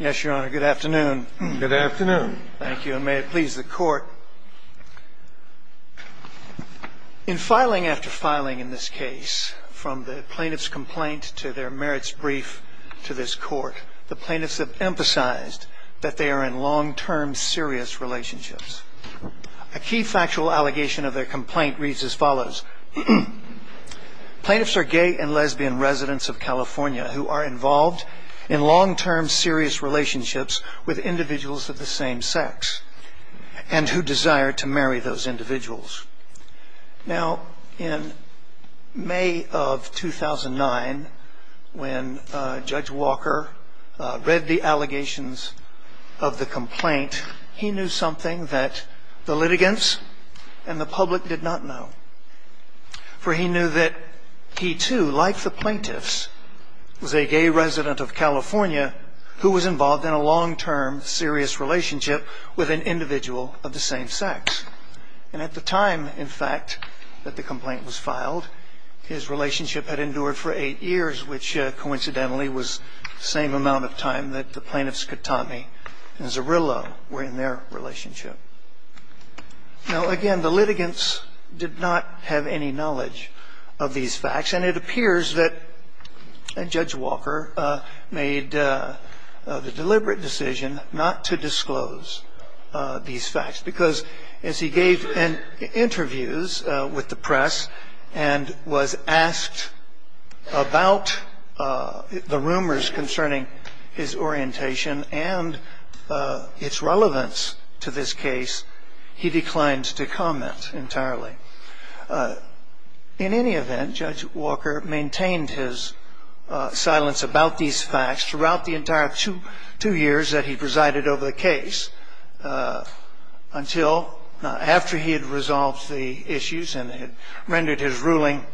Yes, Your Honor. Good afternoon. Good afternoon. Thank you, and may it please the Court. In filing after filing in this case, from the plaintiff's complaint to their merits brief to this Court, the plaintiffs have emphasized that they are in long-term, serious relationships. A key factual allegation of their complaint reads as follows. Plaintiffs are gay and lesbian residents of California who are involved in long-term, serious relationships with individuals of the same sex and who desire to marry those individuals. Now, in May of 2009, when Judge Walker read the allegations of the complaint, he knew something that the litigants and the public did not know. For he knew that he, too, like the plaintiffs, was a gay resident of California who was involved in a long-term, serious relationship with an individual of the same sex. And at the time, in fact, that the complaint was filed, his relationship had endured for eight years, which coincidentally was the same amount of time that the plaintiffs Katami and Zarrillo were in their relationship. Now, again, the litigants did not have any knowledge of these facts, and it appears that Judge Walker made the deliberate decision not to disclose these facts, because as he gave interviews with the press and was asked about the rumors concerning his orientation and its relevance to this case, he declined to comment entirely. In any event, Judge Walker maintained his silence about these facts throughout the entire two years that he presided over the case until, after he had resolved the issues and had rendered his ruling,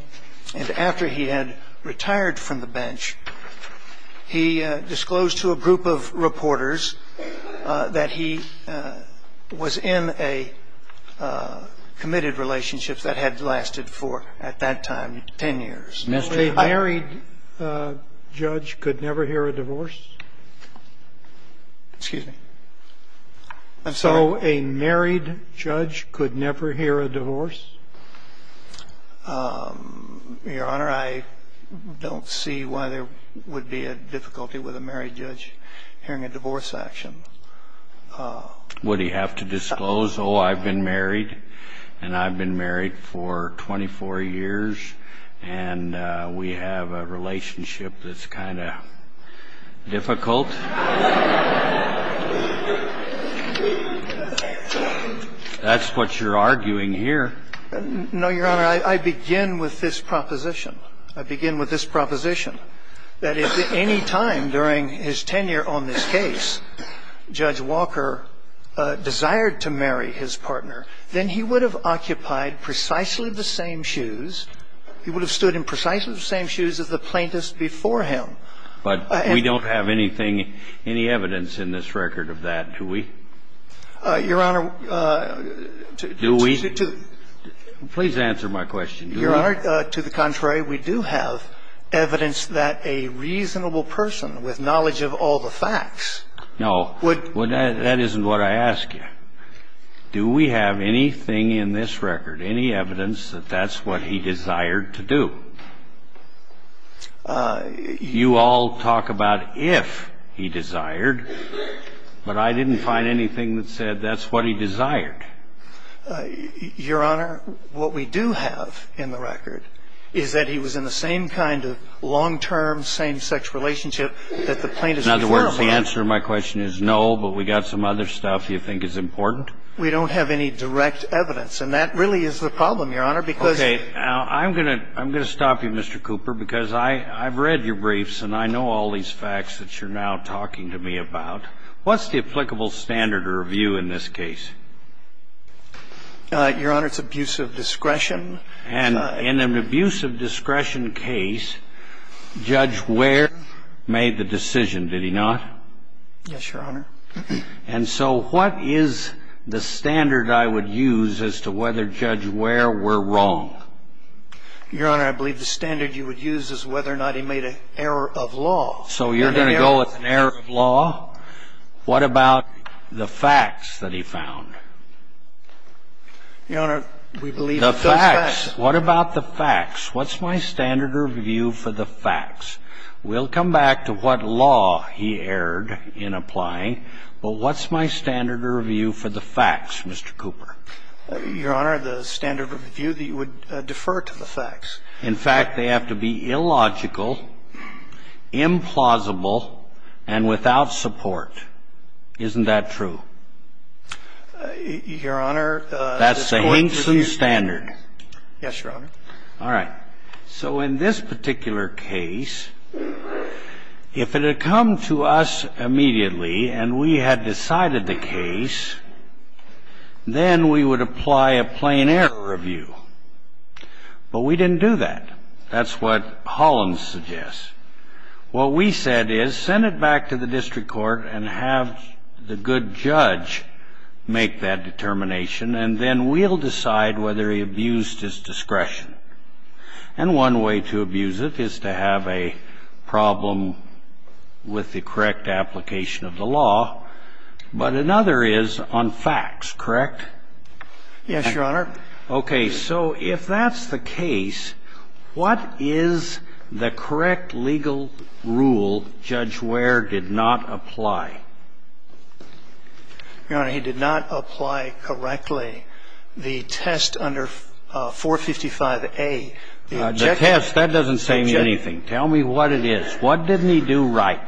and after he had retired from the bench, he disclosed to a group of reporters that he was in a committed relationship that had lasted for, at that time, 10 years. Mr. Hightower. So a married judge could never hear a divorce? Excuse me? I'm sorry? So a married judge could never hear a divorce? Your Honor, I don't see why there would be a difficulty with a married judge hearing a divorce action. Would he have to disclose, oh, I've been married, and I've been married for 24 years, and we have a relationship that's kind of difficult? That's what you're arguing here. No, Your Honor, I begin with this proposition. I begin with this proposition, that if at any time during his tenure on this case, Judge Walker desired to marry his partner, then he would have occupied precisely the same shoes, he would have stood in precisely the same shoes as the plaintiffs before him. But we don't have anything, any evidence in this record of that, do we? Your Honor, to the contrary, we do have evidence that a reasonable person with knowledge of all the facts would Well, that isn't what I asked you. Do we have anything in this record, any evidence that that's what he desired to do? You all talk about if he desired, but I didn't find anything that said that's what he desired. Your Honor, what we do have in the record is that he was in the same kind of long-term same-sex relationship that the plaintiffs before him Well, the answer to my question is no, but we got some other stuff you think is important? We don't have any direct evidence, and that really is the problem, Your Honor, because Okay. I'm going to stop you, Mr. Cooper, because I've read your briefs, and I know all these facts that you're now talking to me about. What's the applicable standard or view in this case? Your Honor, it's abuse of discretion. And in an abuse of discretion case, Judge Ware made the decision, did he not? Yes, Your Honor. And so what is the standard I would use as to whether Judge Ware were wrong? Your Honor, I believe the standard you would use is whether or not he made an error of law. So you're going to go with an error of law? What about the facts that he found? Your Honor, we believe those facts The facts. What about the facts? What's my standard of view for the facts? We'll come back to what law he erred in applying, but what's my standard of view for the facts, Mr. Cooper? Your Honor, the standard of view that you would defer to the facts. In fact, they have to be illogical, implausible, and without support. Isn't that true? Your Honor, the court's review standard. That's the Hinkson standard. Yes, Your Honor. All right. So in this particular case, if it had come to us immediately and we had decided the case, then we would apply a plain error review. But we didn't do that. That's what Hollins suggests. What we said is send it back to the district court and have the good judge make that determination, and then we'll decide whether he abused his discretion. And one way to abuse it is to have a problem with the correct application of the law. But another is on facts, correct? Yes, Your Honor. If we can move to the next case, we'll go to Judge Ware. Okay. So if that's the case, what is the correct legal rule Judge Ware did not apply? Your Honor, he did not apply correctly the test under 455A. The test, that doesn't say anything. Tell me what it is. What didn't he do right?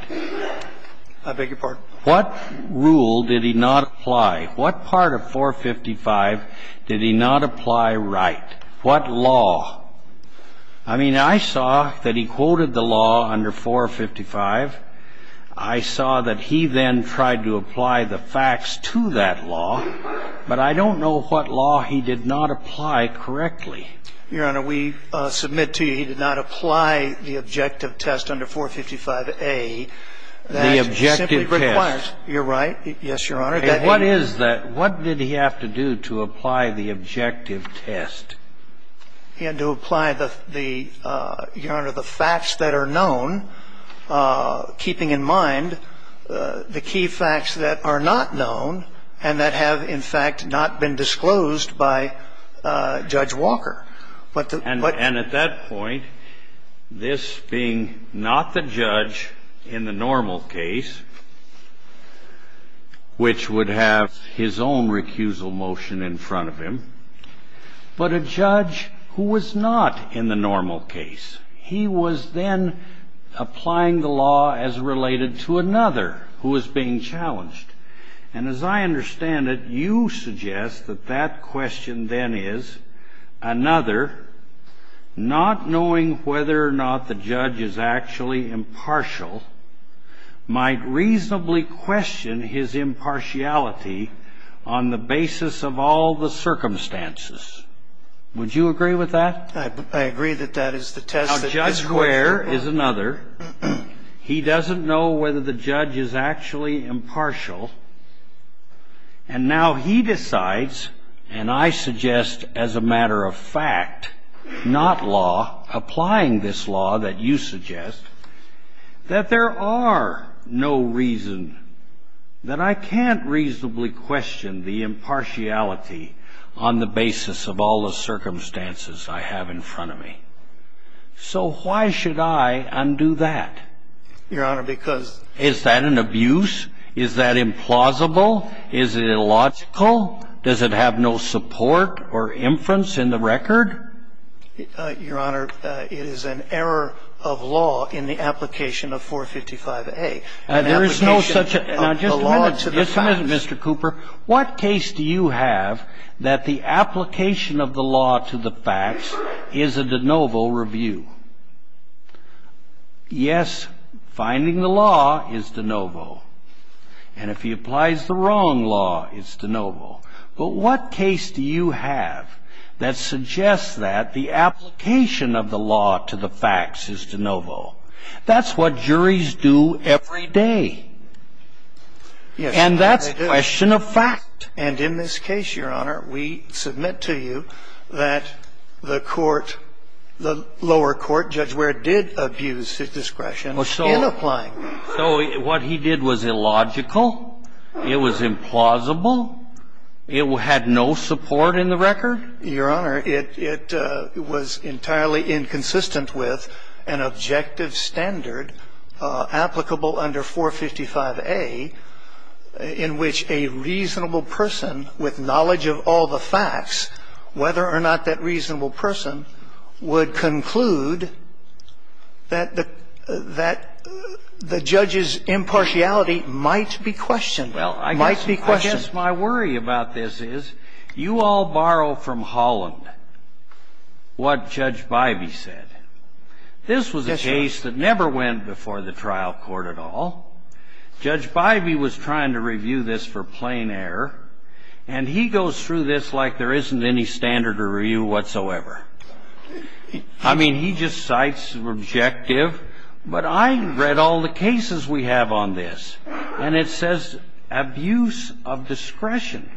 I beg your pardon? What rule did he not apply? What part of 455 did he not apply right? What law? I mean, I saw that he quoted the law under 455. I saw that he then tried to apply the facts to that law. But I don't know what law he did not apply correctly. Your Honor, we submit to you he did not apply the objective test under 455A. The objective test. You're right. Yes, Your Honor. What is that? What did he have to do to apply the objective test? He had to apply the facts that are known, keeping in mind the key facts that are not known and that have, in fact, not been disclosed by Judge Walker. And at that point, this being not the judge in the normal case, which would have his own recusal motion in front of him, but a judge who was not in the normal case. He was then applying the law as related to another who was being challenged. And as I understand it, you suggest that that question then is another, not knowing whether or not the judge is actually impartial, might reasonably question his impartiality on the basis of all the circumstances. Would you agree with that? I agree that that is the test that is required. There is another. He doesn't know whether the judge is actually impartial. And now he decides, and I suggest as a matter of fact, not law, applying this law that you suggest, that there are no reason that I can't reasonably question the impartiality on the basis of all the circumstances I have in front of me. So why should I undo that? Your Honor, because ---- Is that an abuse? Is that implausible? Is it illogical? Does it have no support or inference in the record? Your Honor, it is an error of law in the application of 455A. There is no such ---- Now, just a minute. Just a minute, Mr. Cooper. Mr. Cooper, what case do you have that the application of the law to the facts is a de novo review? Yes, finding the law is de novo. And if he applies the wrong law, it's de novo. But what case do you have that suggests that the application of the law to the facts is de novo? That's what juries do every day. And that's a question of fact. And in this case, Your Honor, we submit to you that the court, the lower court, Judge Ware did abuse his discretion in applying the law. So what he did was illogical? It was implausible? It had no support in the record? Your Honor, it was entirely inconsistent with an objective standard applicable under 455A in which a reasonable person with knowledge of all the facts, whether or not that reasonable person would conclude that the judge's impartiality might be questioned. Might be questioned. Well, I guess my worry about this is you all borrow from Holland what Judge Bybee said. This was a case that never went before the trial court at all. Judge Bybee was trying to review this for plain error. And he goes through this like there isn't any standard to review whatsoever. I mean, he just cites the objective. But I read all the cases we have on this. And it says abuse of discretion.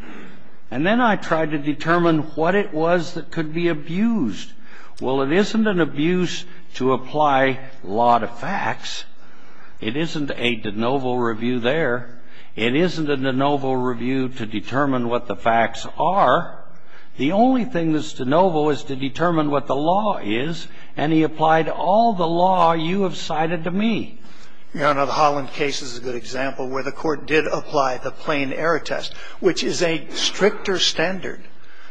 And then I tried to determine what it was that could be abused. Well, it isn't an abuse to apply law to facts. It isn't a de novo review there. It isn't a de novo review to determine what the facts are. The only thing that's de novo is to determine what the law is. And he applied all the law you have cited to me. Your Honor, the Holland case is a good example where the court did apply the plain error test, which is a stricter standard,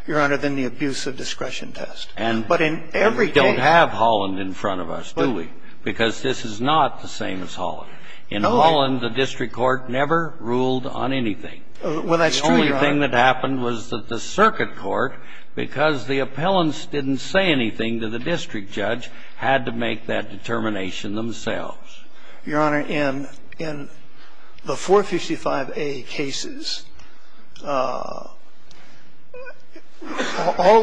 Your Honor, than the abuse of discretion test. And we don't have Holland in front of us, do we? Because this is not the same as Holland. In Holland, the district court never ruled on anything. Well, that's true, Your Honor. The only thing that happened was that the circuit court, because the appellants didn't say anything to the district judge, had to make that determination themselves. Your Honor, in the 455A cases, all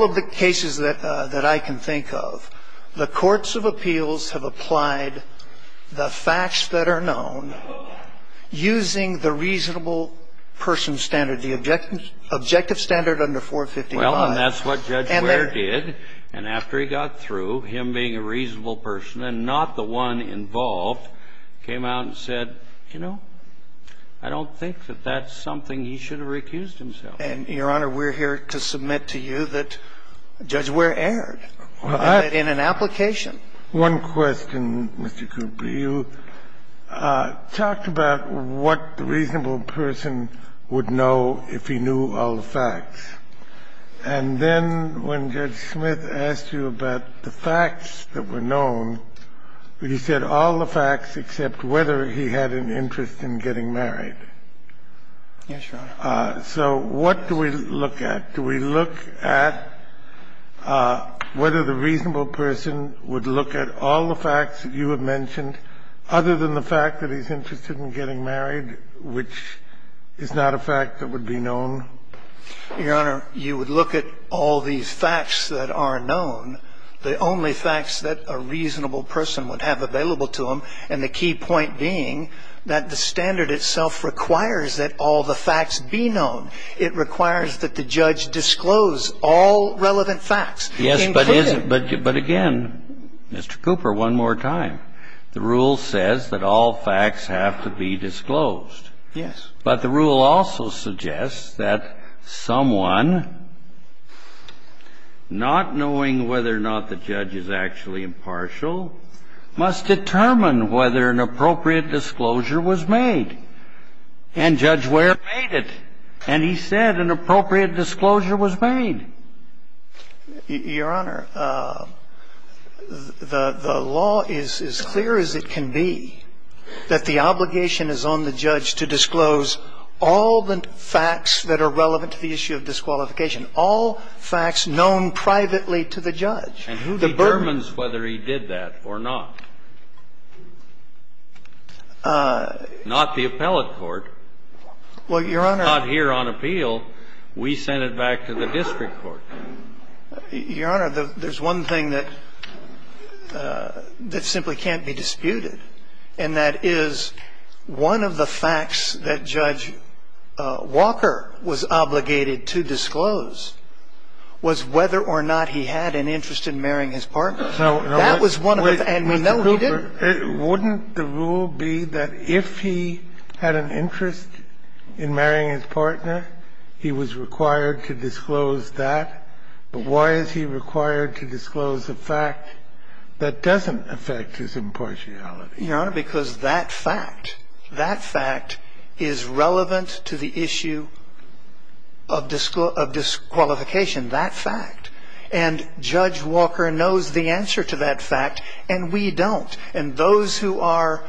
of the cases that I can think of, the courts of appeals have applied the facts that are known using the reasonable person standard, the objective standard under 455. Well, and that's what Judge Wehr did. And after he got through, him being a reasonable person and not the one involved, came out and said, you know, I don't think that that's something he should have recused himself. And, Your Honor, we're here to submit to you that Judge Wehr erred in an application. One question, Mr. Cooper. You talked about what the reasonable person would know if he knew all the facts. And then when Judge Smith asked you about the facts that were known, you said all the facts except whether he had an interest in getting married. Yes, Your Honor. So what do we look at? Do we look at whether the reasonable person would look at all the facts that you have mentioned other than the fact that he's interested in getting married, which is not a fact that would be known? Your Honor, you would look at all these facts that are known, the only facts that a reasonable person would have available to him, and the key point being that the standard itself requires that all the facts be known. It requires that the judge disclose all relevant facts. Yes, but again, Mr. Cooper, one more time, the rule says that all facts have to be disclosed. Yes. But the rule also suggests that someone, not knowing whether or not the judge is actually impartial, must determine whether an appropriate disclosure was made. And Judge Ware made it, and he said an appropriate disclosure was made. Your Honor, the law is as clear as it can be that the obligation is on the judge to disclose all the facts that are relevant to the issue of disqualification, all facts known privately to the judge. And who determines whether he did that or not? Not the appellate court. Well, Your Honor. Not here on appeal. We sent it back to the district court. Your Honor, there's one thing that simply can't be disputed, and that is one of the things that Judge Walker was obligated to disclose was whether or not he had an interest in marrying his partner. That was one of the things. And we know he didn't. Wouldn't the rule be that if he had an interest in marrying his partner, he was required to disclose that? Why is he required to disclose a fact that doesn't affect his impartiality? Your Honor, because that fact, that fact is relevant to the issue of disqualification, that fact. And Judge Walker knows the answer to that fact, and we don't. And those who are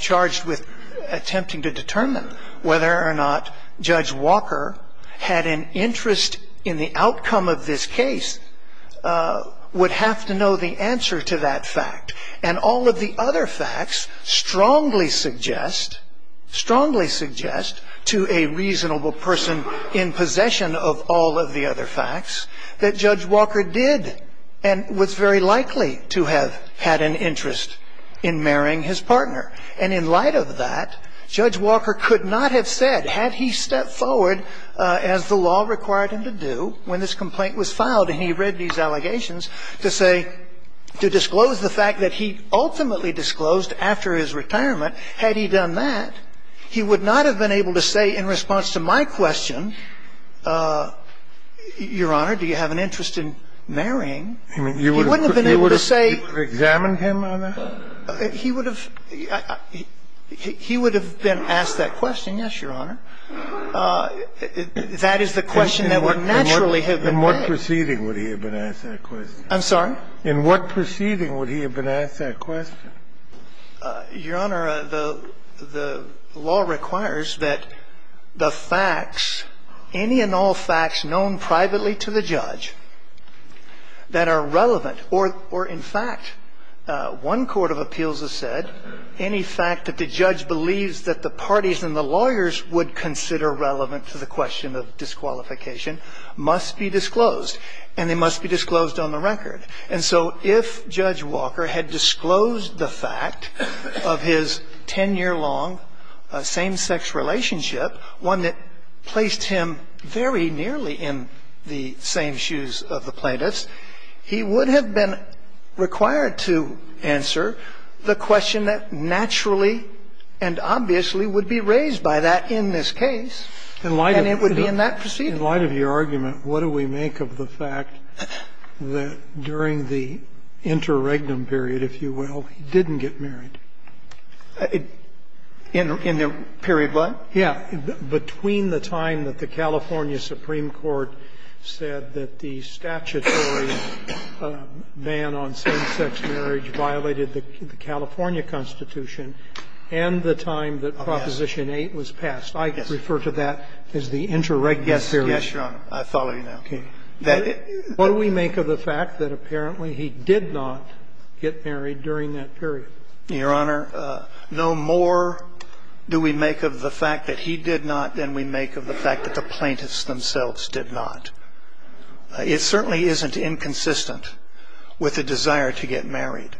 charged with attempting to determine whether or not Judge Walker had an interest in the outcome of this case would have to know the answer to that fact. And all of the other facts strongly suggest, strongly suggest to a reasonable person in possession of all of the other facts that Judge Walker did and was very likely to have had an interest in marrying his partner. And in light of that, Judge Walker could not have said, had he stepped forward, as the law required him to do when this complaint was filed, and he read these allegations, to say, to disclose the fact that he ultimately disclosed after his retirement, had he done that, he would not have been able to say in response to my question, Your Honor, do you have an interest in marrying? He wouldn't have been able to say. You would have examined him on that? He would have been asked that question, yes, Your Honor. That is the question that would naturally have been asked. In what proceeding would he have been asked that question? I'm sorry? In what proceeding would he have been asked that question? Your Honor, the law requires that the facts, any and all facts known privately to the judge that are relevant, or in fact, one court of appeals has said any fact that the judge believes that the parties and the lawyers would consider relevant to the question of disqualification must be disclosed, and they must be disclosed on the record. And so if Judge Walker had disclosed the fact of his ten-year-long same-sex relationship, one that placed him very nearly in the same shoes of the plaintiffs, he would have been required to answer the question that naturally and obviously would be raised by that in this case. And it would be in that proceeding. In light of your argument, what do we make of the fact that during the interregnum period, if you will, he didn't get married? In the period what? Yeah. Between the time that the California Supreme Court said that the statutory ban on same-sex marriage violated the California Constitution and the time that Proposition 8 was passed. Yes. I refer to that as the interregnum period. Yes, Your Honor. I follow you now. Okay. What do we make of the fact that apparently he did not get married during that period? Your Honor, no more do we make of the fact that he did not than we make of the fact that the plaintiffs themselves did not. It certainly isn't inconsistent with the desire to get married,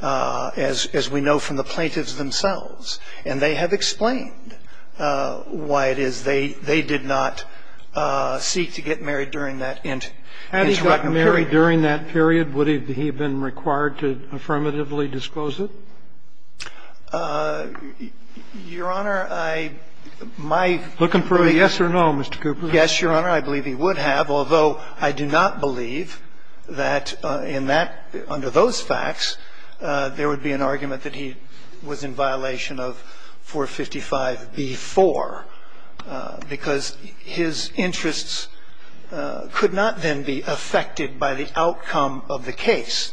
as we know from the plaintiffs themselves. And they have explained why it is they did not seek to get married during that interregnum period. Had he gotten married during that period, would he have been required to affirmatively disclose it? Your Honor, I my ---- Looking for a yes or no, Mr. Cooper. Yes, Your Honor, I believe he would have, although I do not believe that in that under those facts there would be an argument that he was in violation of 455b-4, because his interests could not then be affected by the outcome of the case.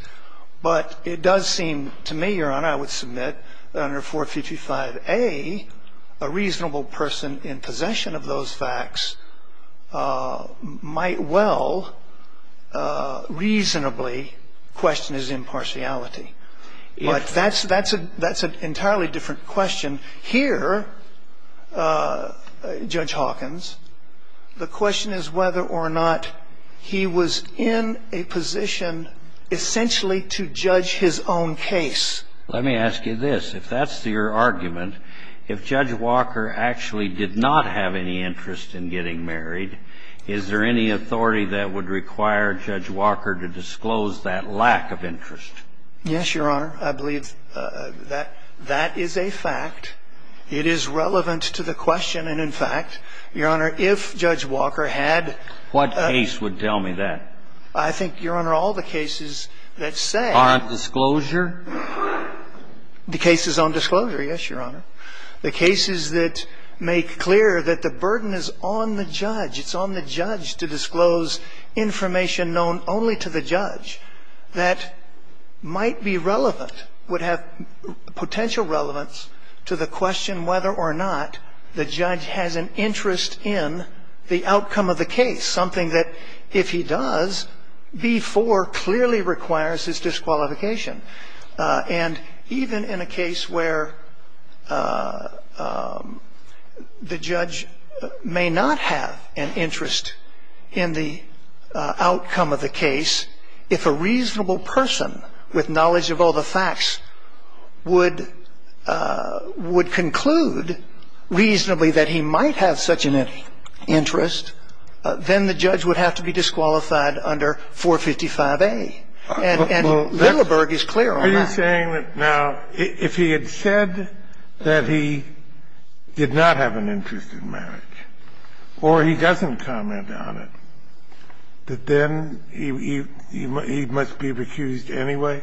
But it does seem to me, Your Honor, I would submit that under 455a, a reasonable person in possession of those facts might well reasonably question his impartiality. But that's an entirely different question. Here, Judge Hawkins, the question is whether or not he was in a position essentially to judge his own case. Let me ask you this. If that's your argument, if Judge Walker actually did not have any interest in getting married, is there any authority that would require Judge Walker to disclose that lack of interest? Yes, Your Honor. I believe that that is a fact. It is relevant to the question. And, in fact, Your Honor, if Judge Walker had ---- What case would tell me that? I think, Your Honor, all the cases that say ---- Aren't disclosure? The cases on disclosure, yes, Your Honor. The cases that make clear that the burden is on the judge, it's on the judge to disclose information known only to the judge that might be relevant, would have potential relevance to the question whether or not the judge has an interest in the outcome of the case, something that, if he does, B-4 clearly requires his disqualification. And even in a case where the judge may not have an interest in the outcome of the case, if a reasonable person with knowledge of all the facts would conclude reasonably that he might have such an interest, then the judge would have to be disqualified under 455A. And Littleburg is clear on that. Are you saying that now, if he had said that he did not have an interest in marriage or he doesn't comment on it, that then he must be recused anyway?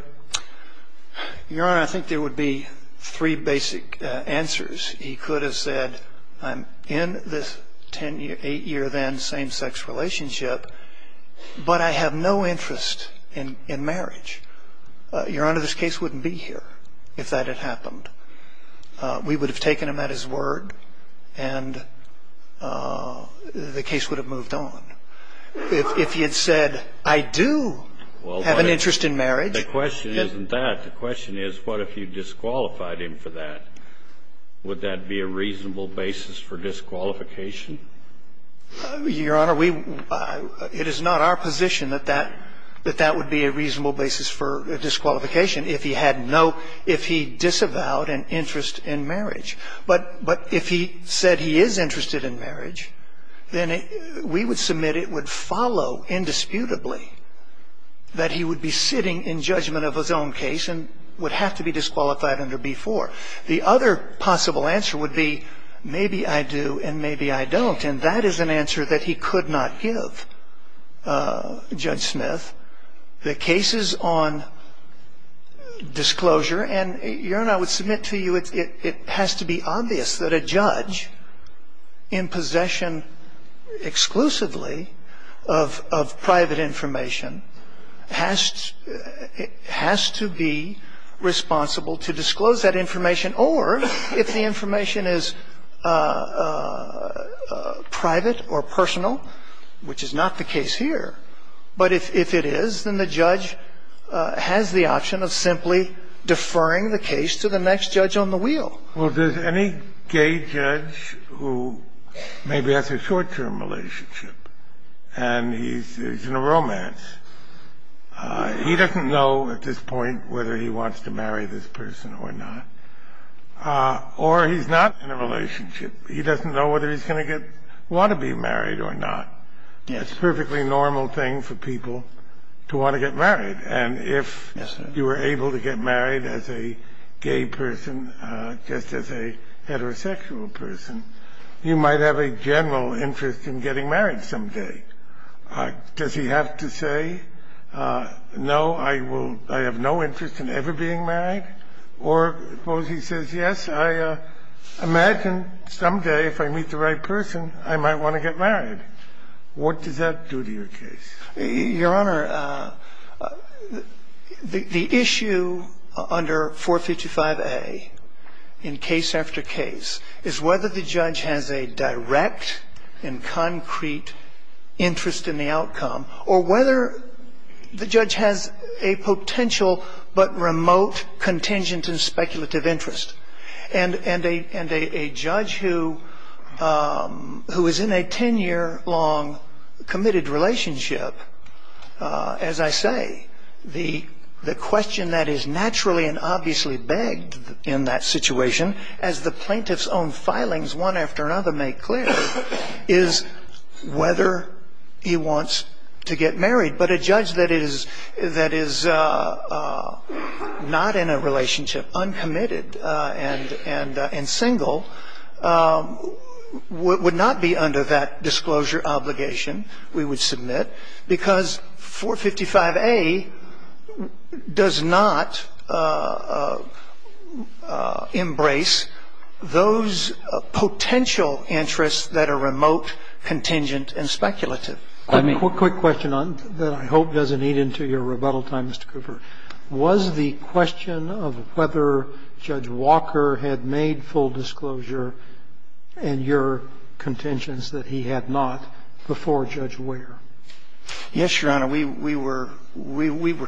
Your Honor, I think there would be three basic answers. He could have said, I'm in this 10-year, 8-year then same-sex relationship, but I have no interest in marriage. Your Honor, this case wouldn't be here if that had happened. We would have taken him at his word, and the case would have moved on. If he had said, I do have an interest in marriage. Well, the question isn't that. The question is, what if you disqualified him for that? Would that be a reasonable basis for disqualification? Your Honor, we – it is not our position that that – that that would be a reasonable basis for disqualification if he had no – if he disavowed an interest in marriage. But if he said he is interested in marriage, then we would submit it would follow indisputably that he would be sitting in judgment of his own case and would have to be disqualified under B-4. The other possible answer would be, maybe I do and maybe I don't. And that is an answer that he could not give, Judge Smith. The cases on disclosure – and Your Honor, I would submit to you it has to be obvious that a judge in possession exclusively of private information has to be responsible to disclose that information or, if the information is private or personal, which is not the case here, but if it is, then the judge has the option of simply deferring the case to the next judge on the wheel. Well, if there is any gay judge who maybe has a short-term relationship and he is in a romance, he doesn't know at this point whether he wants to marry this person or not. Or he is not in a relationship. He doesn't know whether he is going to get – want to be married or not. It is a perfectly normal thing for people to want to get married. And if you were able to get married as a gay person, just as a heterosexual person, you might have a general interest in getting married someday. Does he have to say, no, I will – I have no interest in ever being married? Or suppose he says, yes, I imagine someday if I meet the right person, I might want to get married. What does that do to your case? Your Honor, the issue under 455A in case after case is whether the judge has a direct and concrete interest in the outcome or whether the judge has a potential but remote, contingent and speculative interest. And a judge who is in a 10-year long committed relationship, as I say, the question that is naturally and obviously begged in that situation, as the plaintiff's own filings one after another make clear, is whether he wants to get married. But a judge that is not in a relationship, uncommitted and single, would not be under that disclosure obligation, we would submit, because 455A does not embrace those potential interests that are remote, contingent and speculative. I mean... Scalia. Quick question on that I hope doesn't eat into your rebuttal time, Mr. Cooper. Was the question of whether Judge Walker had made full disclosure in your contentions that he had not before Judge Ware? Cooper. Yes, Your Honor. We were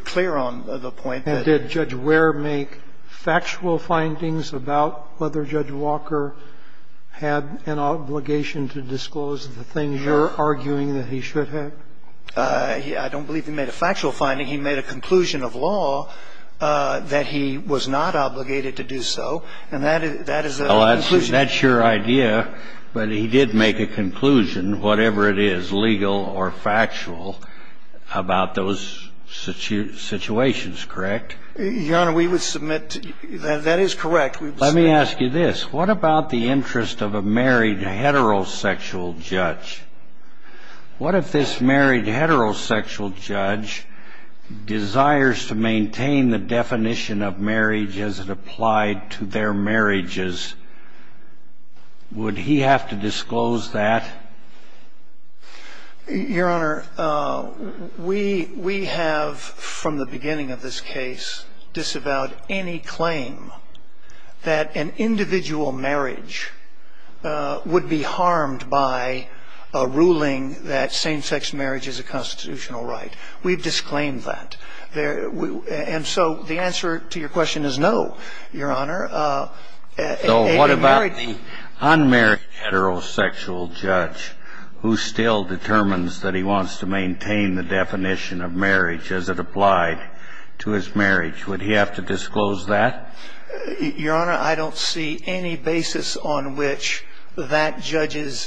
clear on the point that... Scalia. And did Judge Ware make factual findings about whether Judge Walker had an obligation to disclose the things you're arguing that he should have? Cooper. I don't believe he made a factual finding. He made a conclusion of law that he was not obligated to do so. And that is a conclusion... Scalia. Well, that's your idea. But he did make a conclusion, whatever it is, legal or factual, about those situations, correct? Your Honor, we would submit... That is correct. We would submit... What if this married heterosexual judge desires to maintain the definition of marriage as it applied to their marriages? Would he have to disclose that? Your Honor, we have, from the beginning of this case, disavowed any claim that an individual marriage would be harmed by a ruling that same-sex marriage is a constitutional right. We've disclaimed that. And so the answer to your question is no, Your Honor. So what about the unmarried heterosexual judge who still determines that he wants to maintain the definition of marriage as it applied to his marriage? Would he have to disclose that? Your Honor, I don't see any basis on which that judge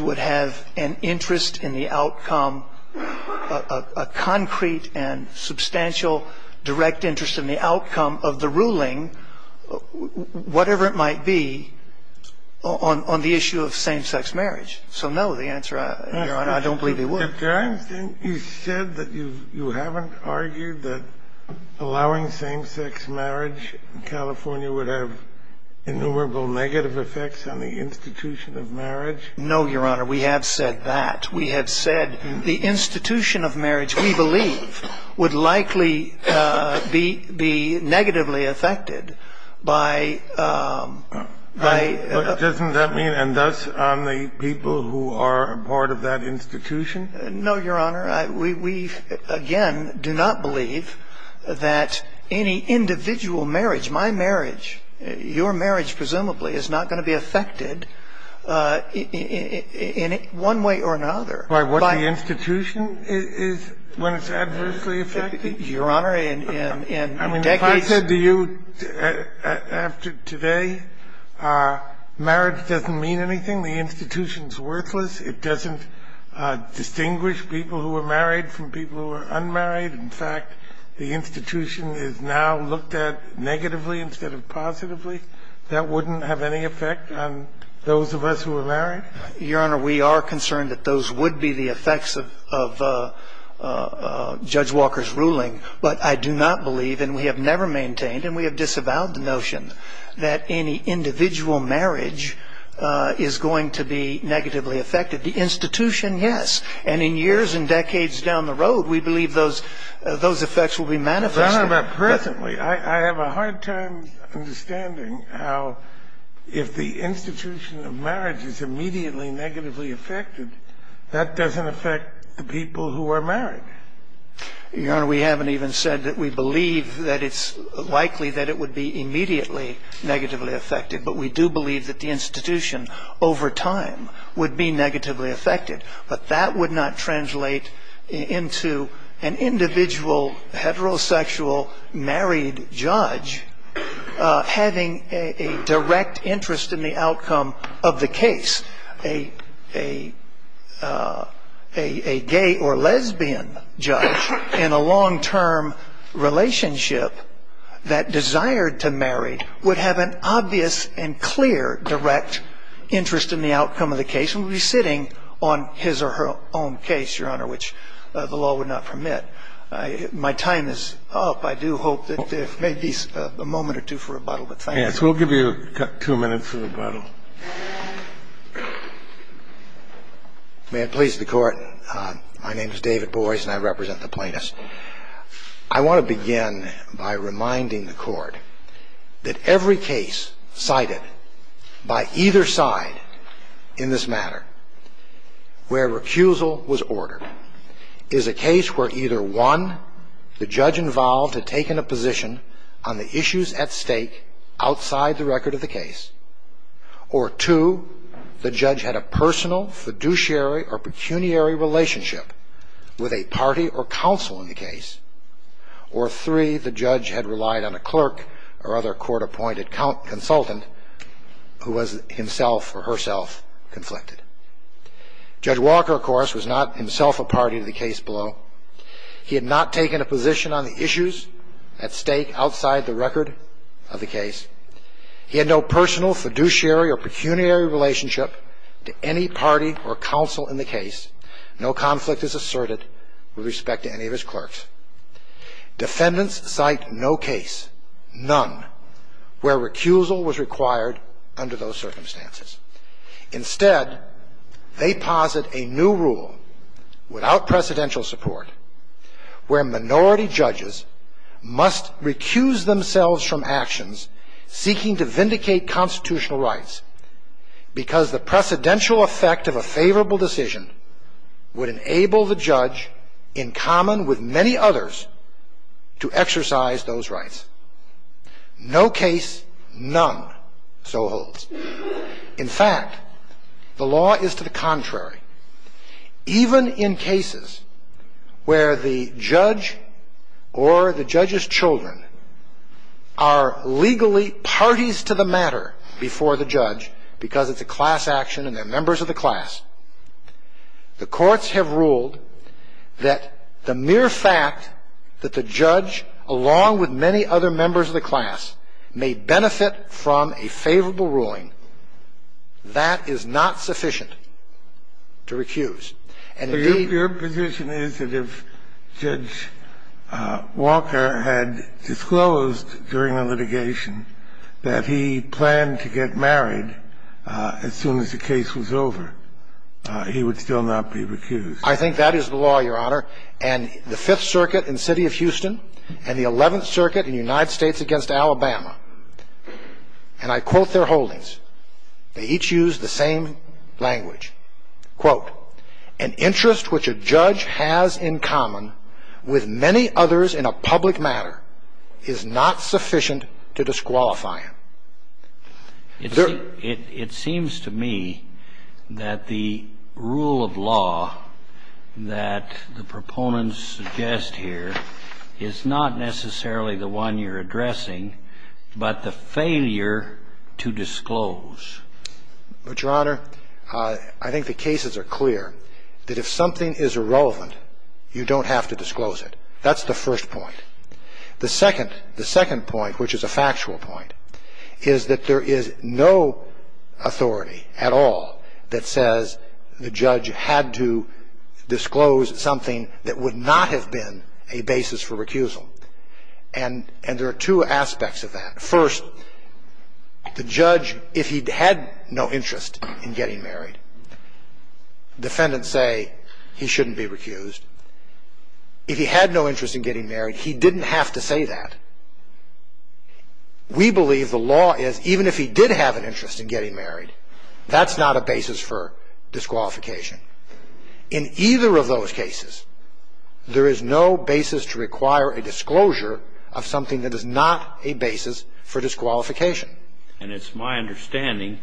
would have an interest in the outcome, a concrete and substantial direct interest in the outcome of the ruling, whatever it might be, on the issue of same-sex marriage. So no, the answer, Your Honor, I don't believe he would. You said that you haven't argued that allowing same-sex marriage in California would have innumerable negative effects on the institution of marriage? No, Your Honor, we have said that. We have said the institution of marriage, we believe, would likely be negatively affected by... Doesn't that mean, and thus on the people who are a part of that institution? No, Your Honor. We, again, do not believe that any individual marriage, my marriage, your marriage presumably, is not going to be affected in one way or another by... By what the institution is when it's adversely affected? Your Honor, in decades... I mean, if I said to you after today, marriage doesn't mean anything, the institution is worthless, it doesn't distinguish people who are married from people who are unmarried. In fact, the institution is now looked at negatively instead of positively. That wouldn't have any effect on those of us who are married? Your Honor, we are concerned that those would be the effects of Judge Walker's and we have disavowed the notion that any individual marriage is going to be negatively affected. The institution, yes. And in years and decades down the road, we believe those effects will be manifested. Your Honor, but presently, I have a hard time understanding how if the institution of marriage is immediately negatively affected, that doesn't affect the people who are married. Your Honor, we haven't even said that we believe that it's likely that it would be immediately negatively affected, but we do believe that the institution, over time, would be negatively affected. But that would not translate into an individual heterosexual married judge having a direct interest in the outcome of the case. Just a gay or lesbian judge in a long-term relationship that desired to marry would have an obvious and clear direct interest in the outcome of the case and would be sitting on his or her own case, Your Honor, which the law would not permit. My time is up. I do hope that maybe a moment or two for rebuttal, but thank you. Yes, we'll give you two minutes for rebuttal. May it please the Court. My name is David Boies, and I represent the plaintiffs. I want to begin by reminding the Court that every case cited by either side in this matter where recusal was ordered is a case where either one, the judge involved, had taken a position on the issues at stake outside the record of the case, or two, the judge had a personal, fiduciary, or pecuniary relationship with a party or counsel in the case, or three, the judge had relied on a clerk or other court-appointed consultant who was himself or herself conflicted. Judge Walker, of course, was not himself a party to the case below. He had not taken a position on the issues at stake outside the record of the case. He had no personal, fiduciary, or pecuniary relationship to any party or counsel in the case. No conflict is asserted with respect to any of his clerks. Defendants cite no case, none, where recusal was required under those circumstances. Instead, they posit a new rule without precedential support where minority judges must recuse themselves from actions seeking to vindicate constitutional rights because the precedential effect of a favorable decision would enable the judge, in common with many others, to exercise those rights. No case, none, so holds. In fact, the law is to the contrary. Even in cases where the judge or the judge's children are legally parties to the matter before the judge because it's a class action and they're members of the class, the courts have ruled that the mere fact that the judge, along with many other members of the class, may benefit from a favorable ruling, that is not sufficient to recuse. And, indeed — Your position is that if Judge Walker had disclosed during the litigation that he planned to get married as soon as the case was over, he would still not be recused? I think that is the law, Your Honor. And the Fifth Circuit in the city of Houston and the Eleventh Circuit in the United States against Alabama, and I quote their holdings. They each use the same language. Quote, an interest which a judge has in common with many others in a public matter is not sufficient to disqualify him. It seems to me that the rule of law that the proponents suggest here is not necessarily the one you're addressing, but the failure to disclose. But, Your Honor, I think the cases are clear that if something is irrelevant, you don't have to disclose it. That's the first point. The second point, which is a factual point, is that there is no authority at all that says the judge had to disclose something that would not have been a basis for recusal. And there are two aspects of that. First, the judge, if he had no interest in getting married, defendants say he shouldn't be recused. If he had no interest in getting married, he didn't have to say that. We believe the law is, even if he did have an interest in getting married, that's not a basis for disqualification. In either of those cases, there is no basis to require a disclosure of something that is not a basis for disqualification. And it's my understanding,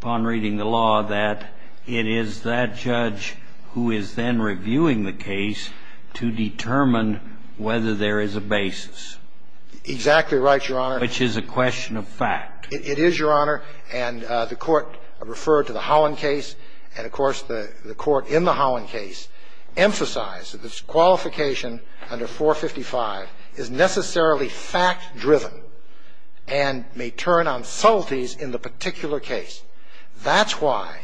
upon reading the law, that it is that judge who is then reviewing the case to determine whether there is a basis. Exactly right, Your Honor. Which is a question of fact. It is, Your Honor. And the Court referred to the Holland case. And, of course, the Court in the Holland case emphasized that disqualification under 455 is necessarily fact-driven and may turn on subtleties in the particular case. That's why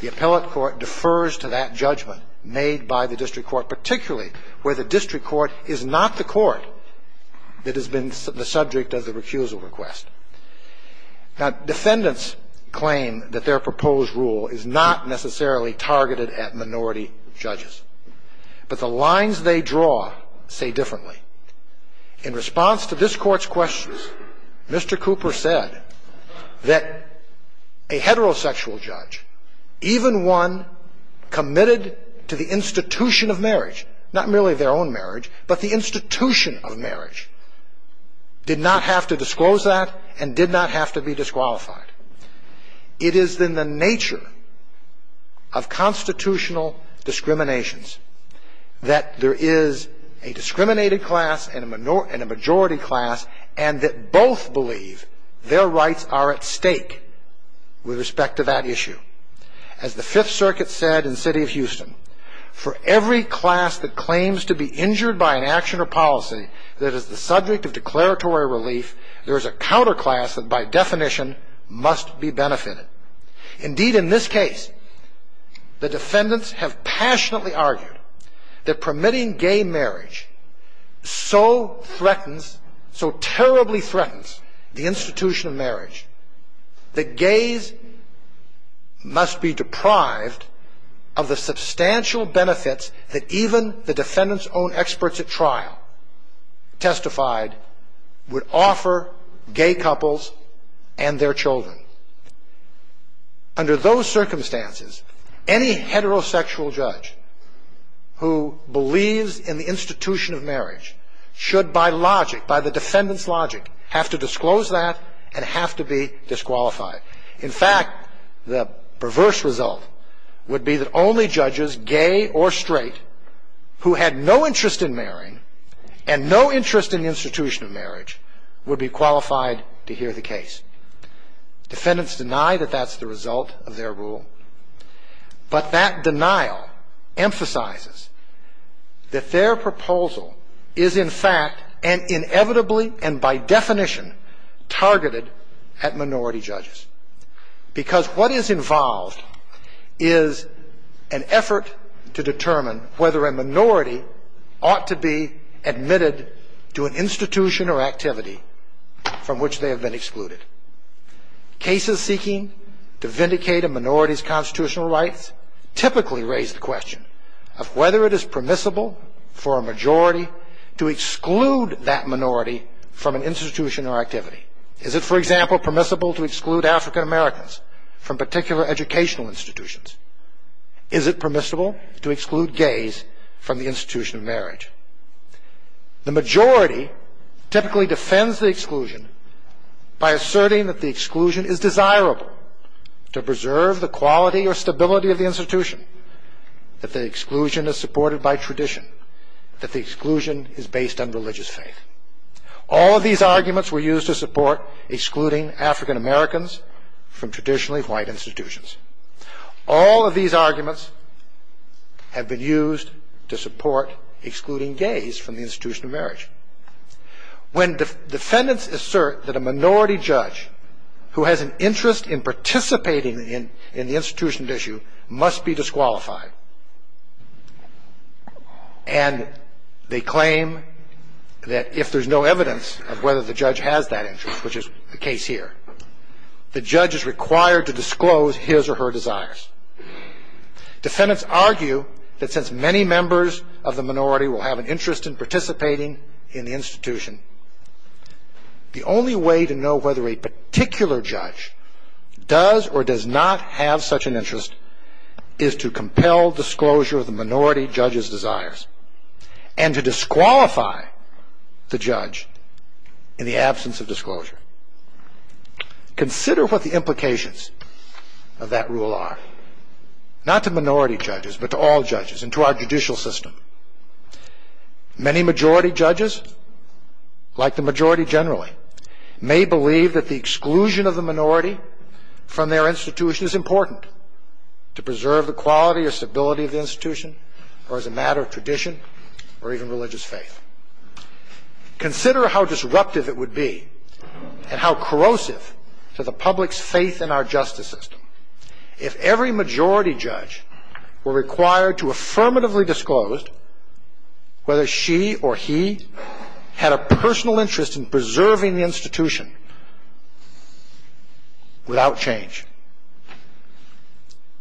the appellate court defers to that judgment made by the district court, particularly where the district court is not the court that has been the subject of the recusal request. Now, defendants claim that their proposed rule is not necessarily targeted at minority judges. But the lines they draw say differently. In response to this Court's questions, Mr. Cooper said that a heterosexual judge, even one committed to the institution of marriage, not merely their own marriage, but the institution of marriage, did not have to disclose that and did not have to be disqualified. It is in the nature of constitutional discriminations that there is a discriminated class and a majority class and that both believe their rights are at stake with respect to that issue. As the Fifth Circuit said in the city of Houston, for every class that claims to be injured by an action or policy that is the subject of declaratory relief, there is a counterclass that by definition must be benefited. Indeed, in this case, the defendants have passionately argued that permitting gay marriage so threatens, so terribly threatens the institution of marriage, that gays must be deprived of the substantial benefits that even the defendants' own experts at trial testified would offer gay couples and their children. Under those circumstances, any heterosexual judge who believes in the institution of marriage should, by logic, by the defendants' logic, have to disclose that and have to be disqualified. In fact, the perverse result would be that only judges, gay or straight, who had no interest in marrying and no interest in the institution of marriage would be qualified to hear the case. Defendants deny that that's the result of their rule, but that denial emphasizes that their proposal is, in fact, and inevitably and by definition targeted at minority judges. Because what is involved is an effort to determine whether a minority ought to be admitted to an institution or activity from which they have been excluded. Cases seeking to vindicate a minority's constitutional rights typically raise the question of whether it is permissible for a majority to exclude that minority from an institution or activity. Is it, for example, permissible to exclude African Americans from particular educational institutions? Is it permissible to exclude gays from the institution of marriage? The majority typically defends the exclusion by asserting that the exclusion is desirable to preserve the quality or stability of the institution, that the exclusion is supported by tradition, that the exclusion is based on religious faith. All of these arguments were used to support excluding African Americans from traditionally white institutions. All of these arguments have been used to support excluding gays from the institution of marriage. When defendants assert that a minority judge who has an interest in participating in the institution at issue must be disqualified, and they claim that if there's no evidence of whether the judge has that interest, which is the case here, the judge is required to disclose his or her desires, defendants argue that since many members of the minority will have an interest in participating in the institution, the only way to know whether a particular judge does or does not have such an interest is to compel disclosure of the minority judge's desires and to disqualify the judge in the absence of disclosure. Consider what the implications of that rule are, not to minority judges, but to all judges and to our judicial system. Many majority judges, like the majority generally, may believe that the exclusion of the minority from their institution is important to preserve the quality or stability of the institution or as a matter of tradition or even religious faith. Consider how disruptive it would be and how corrosive to the public's faith in our justice system if every majority judge were required to affirmatively disclose whether she or he had a personal interest in preserving the institution without change,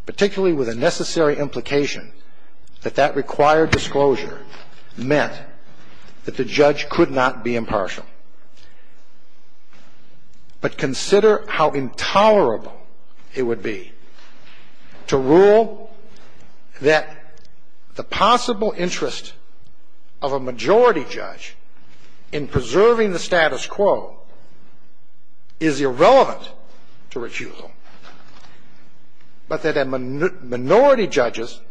particularly with a necessary implication that that required disclosure meant that the judge could not be impartial. But consider how intolerable it would be to rule that the possible interest of a majority judge in preserving the status quo is irrelevant to recusal, but that a minority judge's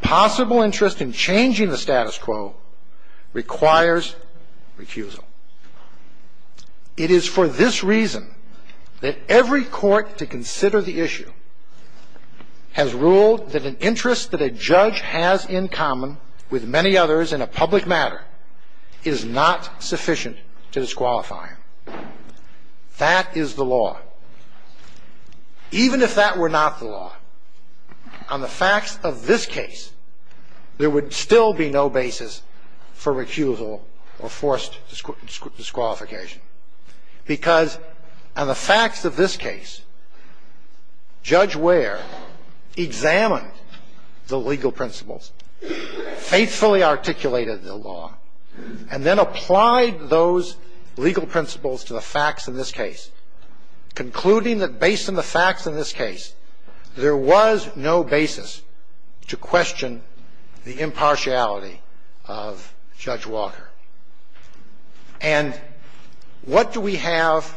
possible interest in changing the status quo requires recusal. It is for this reason that every court to consider the issue has ruled that an interest that a judge has in common with many others in a public matter is not sufficient to disqualify him. That is the law. Even if that were not the law, on the facts of this case, there would still be no basis for recusal or forced disqualification. Because on the facts of this case, Judge Ware examined the legal principles, faithfully articulated the law, and then applied those legal principles to the facts in this case, concluding that based on the facts in this case, there was no basis to question the impartiality of Judge Walker. And what do we have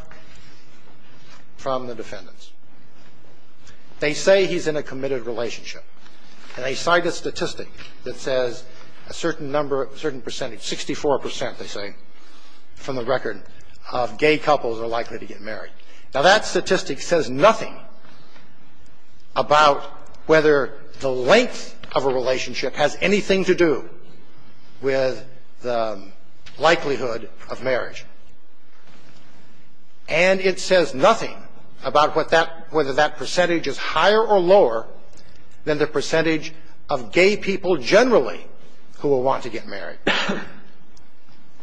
from the defendants? They say he's in a committed relationship, and they cite a statistic that says a certain number, a certain percentage, 64 percent, they say, from the record, of gay couples are likely to get married. Now, that statistic says nothing about whether the length of a relationship has anything to do with the likelihood of marriage. And it says nothing about whether that percentage is higher or lower than the percentage of gay people generally who will want to get married.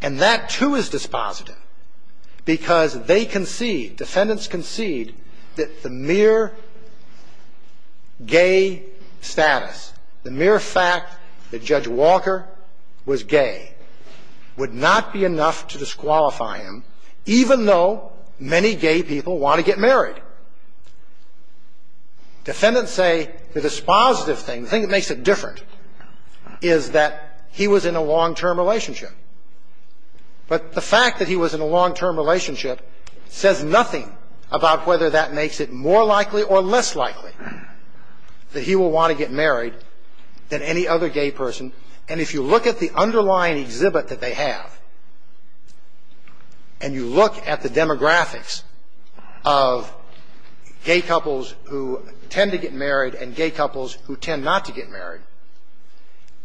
And that, too, is dispositive, because they concede, defendants concede, that the mere status, the mere fact that Judge Walker was gay would not be enough to disqualify him, even though many gay people want to get married. Defendants say the dispositive thing, the thing that makes it different, is that he was in a long-term relationship. But the fact that he was in a long-term relationship says nothing about whether that makes it more likely or less likely that he will want to get married than any other gay person. And if you look at the underlying exhibit that they have, and you look at the demographics of gay couples who tend to get married and gay couples who tend not to get married,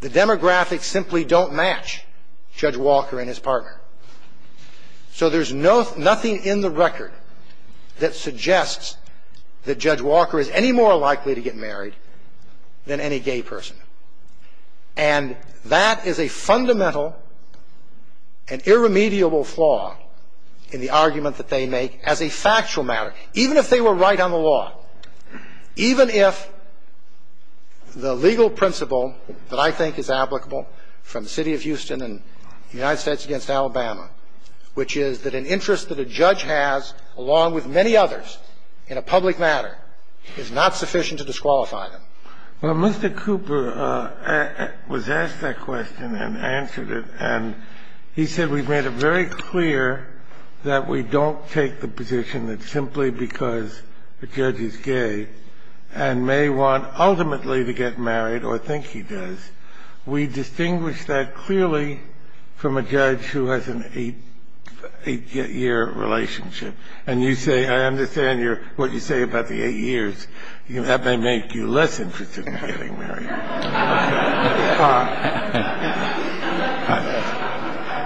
the demographics simply don't match Judge Walker and his partner. So there's nothing in the record that suggests that Judge Walker is any more likely to get married than any gay person. And that is a fundamental and irremediable flaw in the argument that they make as a factual matter, even if they were right on the law, even if the legal principle that I think is applicable from the city of Houston and the United States against Alabama, which is that an interest that a judge has, along with many others in a public matter, is not sufficient to disqualify them. Well, Mr. Cooper was asked that question and answered it. And he said we've made it very clear that we don't take the position that simply because a judge is gay and may want ultimately to get married or think he does, we distinguish that clearly from a judge who has an eight-year relationship. And you say, I understand what you say about the eight years. That may make you less interested in getting married.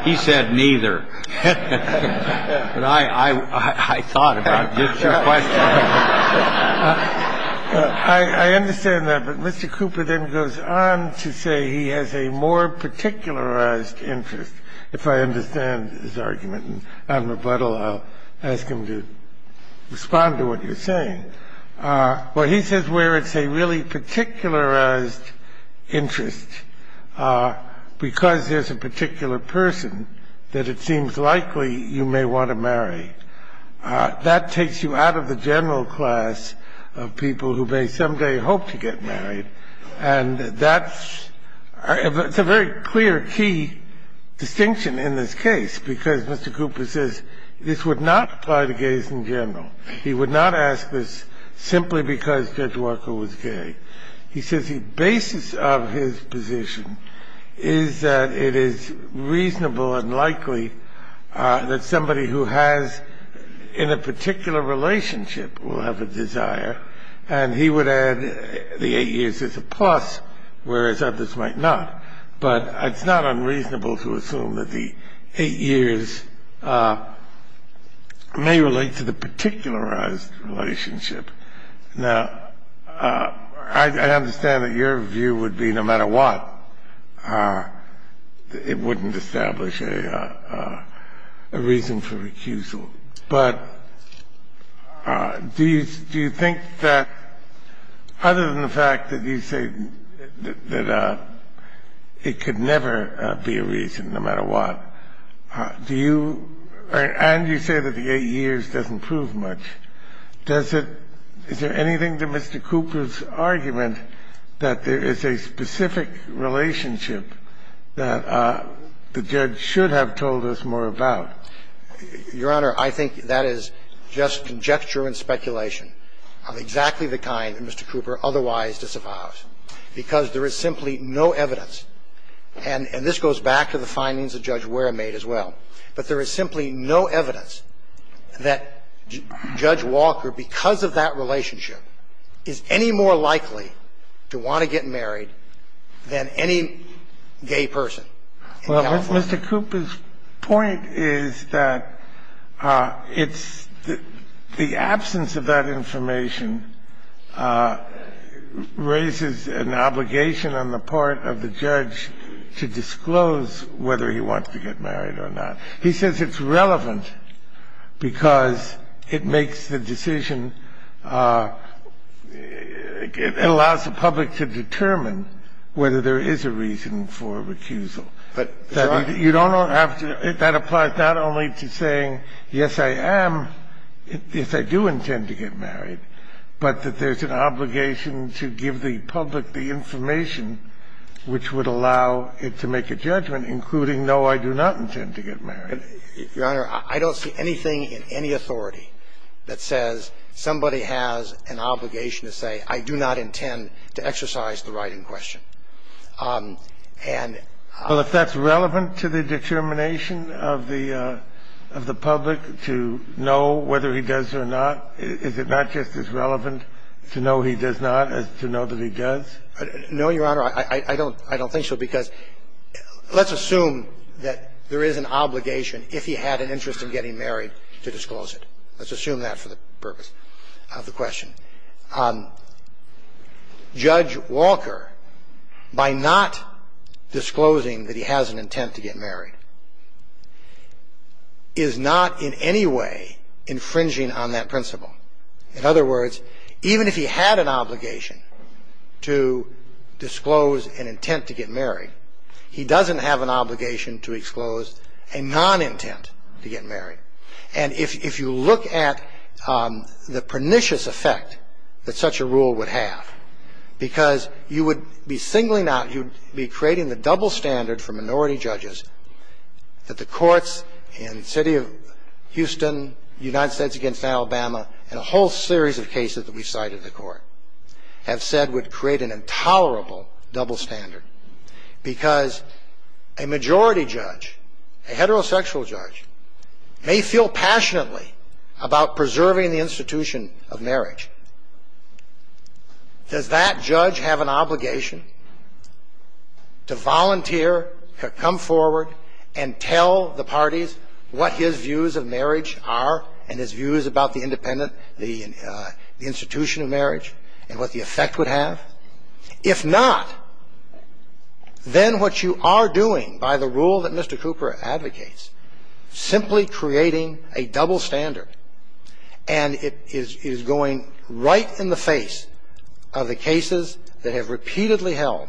He said neither. But I thought about it. I understand that. But Mr. Cooper then goes on to say he has a more particularized interest, if I understand his argument. And on rebuttal, I'll ask him to respond to what you're saying. Well, he says where it's a really particularized interest because there's a particular person that it seems likely you may want to marry. That takes you out of the general class of people who may someday hope to get married. And that's a very clear, key distinction in this case because Mr. Cooper says this would not apply to gays in general. He would not ask this simply because Judge Walker was gay. He says the basis of his position is that it is reasonable and likely that somebody who has in a particular relationship will have a desire. And he would add the eight years is a plus, whereas others might not. But it's not unreasonable to assume that the eight years may relate to the particularized relationship. Now, I understand that your view would be no matter what, it wouldn't establish a reason for recusal. But do you think that, other than the fact that you say that it could never be a reason no matter what, do you – and you say that the eight years doesn't prove much. Does it – is there anything to Mr. Cooper's argument that there is a specific relationship that the judge should have told us more about? Your Honor, I think that is just conjecture and speculation of exactly the kind that Mr. Cooper otherwise disavows, because there is simply no evidence. And this goes back to the findings that Judge Ware made as well. But there is simply no evidence that Judge Walker, because of that relationship, is any more likely to want to get married than any gay person in California. Well, Mr. Cooper's point is that it's the absence of that information raises an obligation on the part of the judge to disclose whether he wants to get married or not. He says it's relevant because it makes the decision – it allows the public to determine whether there is a reason for recusal. You don't have to – that applies not only to saying, yes, I am – yes, I do intend to get married, but that there's an obligation to give the public the information which would allow it to make a judgment, including, no, I do not intend to get married. Your Honor, I don't see anything in any authority that says somebody has an obligation to say, I do not intend to exercise the right in question. And – Well, if that's relevant to the determination of the public to know whether he does or not, is it not just as relevant to know he does not as to know that he does? No, Your Honor. I don't think so, because let's assume that there is an obligation if he had an interest in getting married to disclose it. Let's assume that for the purpose of the question. Judge Walker, by not disclosing that he has an intent to get married, is not in any way infringing on that principle. In other words, even if he had an obligation to disclose an intent to get married, he doesn't have an obligation to disclose a non-intent to get married. And if you look at the pernicious effect that such a rule would have, because you would be singling out – you would be creating the double standard for minority judges that The courts in the city of Houston, United States against Alabama, and a whole series of cases that we've cited in the court, have said would create an intolerable double standard. Because a majority judge, a heterosexual judge, may feel passionately about preserving the institution of marriage. Does that judge have an obligation to volunteer, to come forward and tell the parties what his views of marriage are and his views about the independent – the institution of marriage and what the effect would have? If not, then what you are doing by the rule that Mr. Cooper advocates, simply creating a double standard, and it is going right in the face of the cases that have repeatedly held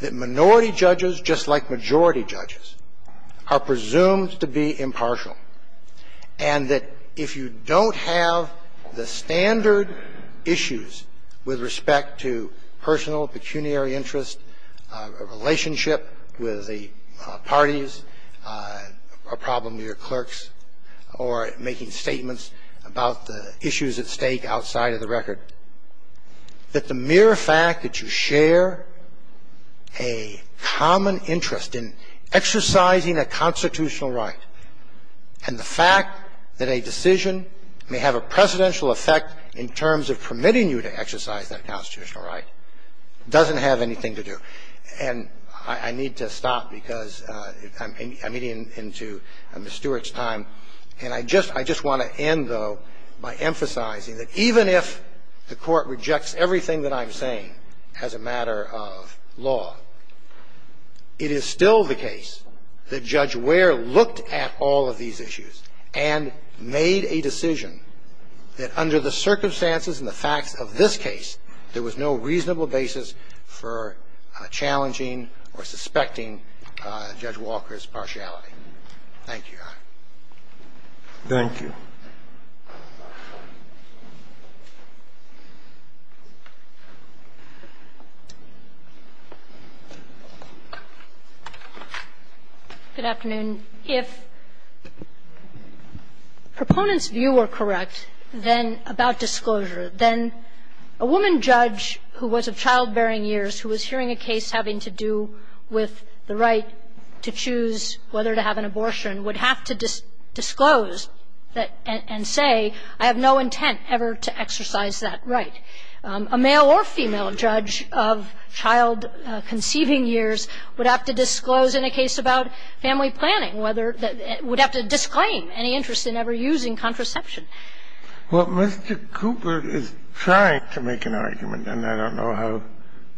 that minority judges, just like majority judges, are presumed to be impartial. And that if you don't have the standard issues with respect to personal pecuniary interest, a relationship with the parties, a problem with your clerks, or making statements about the issues at stake outside of the record, that the mere fact that you share a common interest in exercising a constitutional right and the fact that a decision may have a presidential effect in terms of permitting you to exercise that constitutional right doesn't have anything to do. And I need to stop because I'm getting into Ms. Stewart's time. And I just want to end, though, by emphasizing that even if the Court rejects everything that I'm saying as a matter of law, it is still the case that Judge Ware looked at all of these issues and made a decision that under the circumstances and the facts of this case, there was no reasonable basis for challenging or suspecting Judge Walker's partiality. Thank you, Your Honor. Thank you. Good afternoon. If proponents' view were correct, then, about disclosure, then a woman judge who was of childbearing years, who was hearing a case having to do with the right to choose whether to have an abortion, would have to disclose that and say, I have no intent ever to exercise that right. A male or female judge of child conceiving years would have to disclose in a case about family planning whether they would have to disclaim any interest in ever using contraception. Well, Mr. Cooper is trying to make an argument, and I don't know how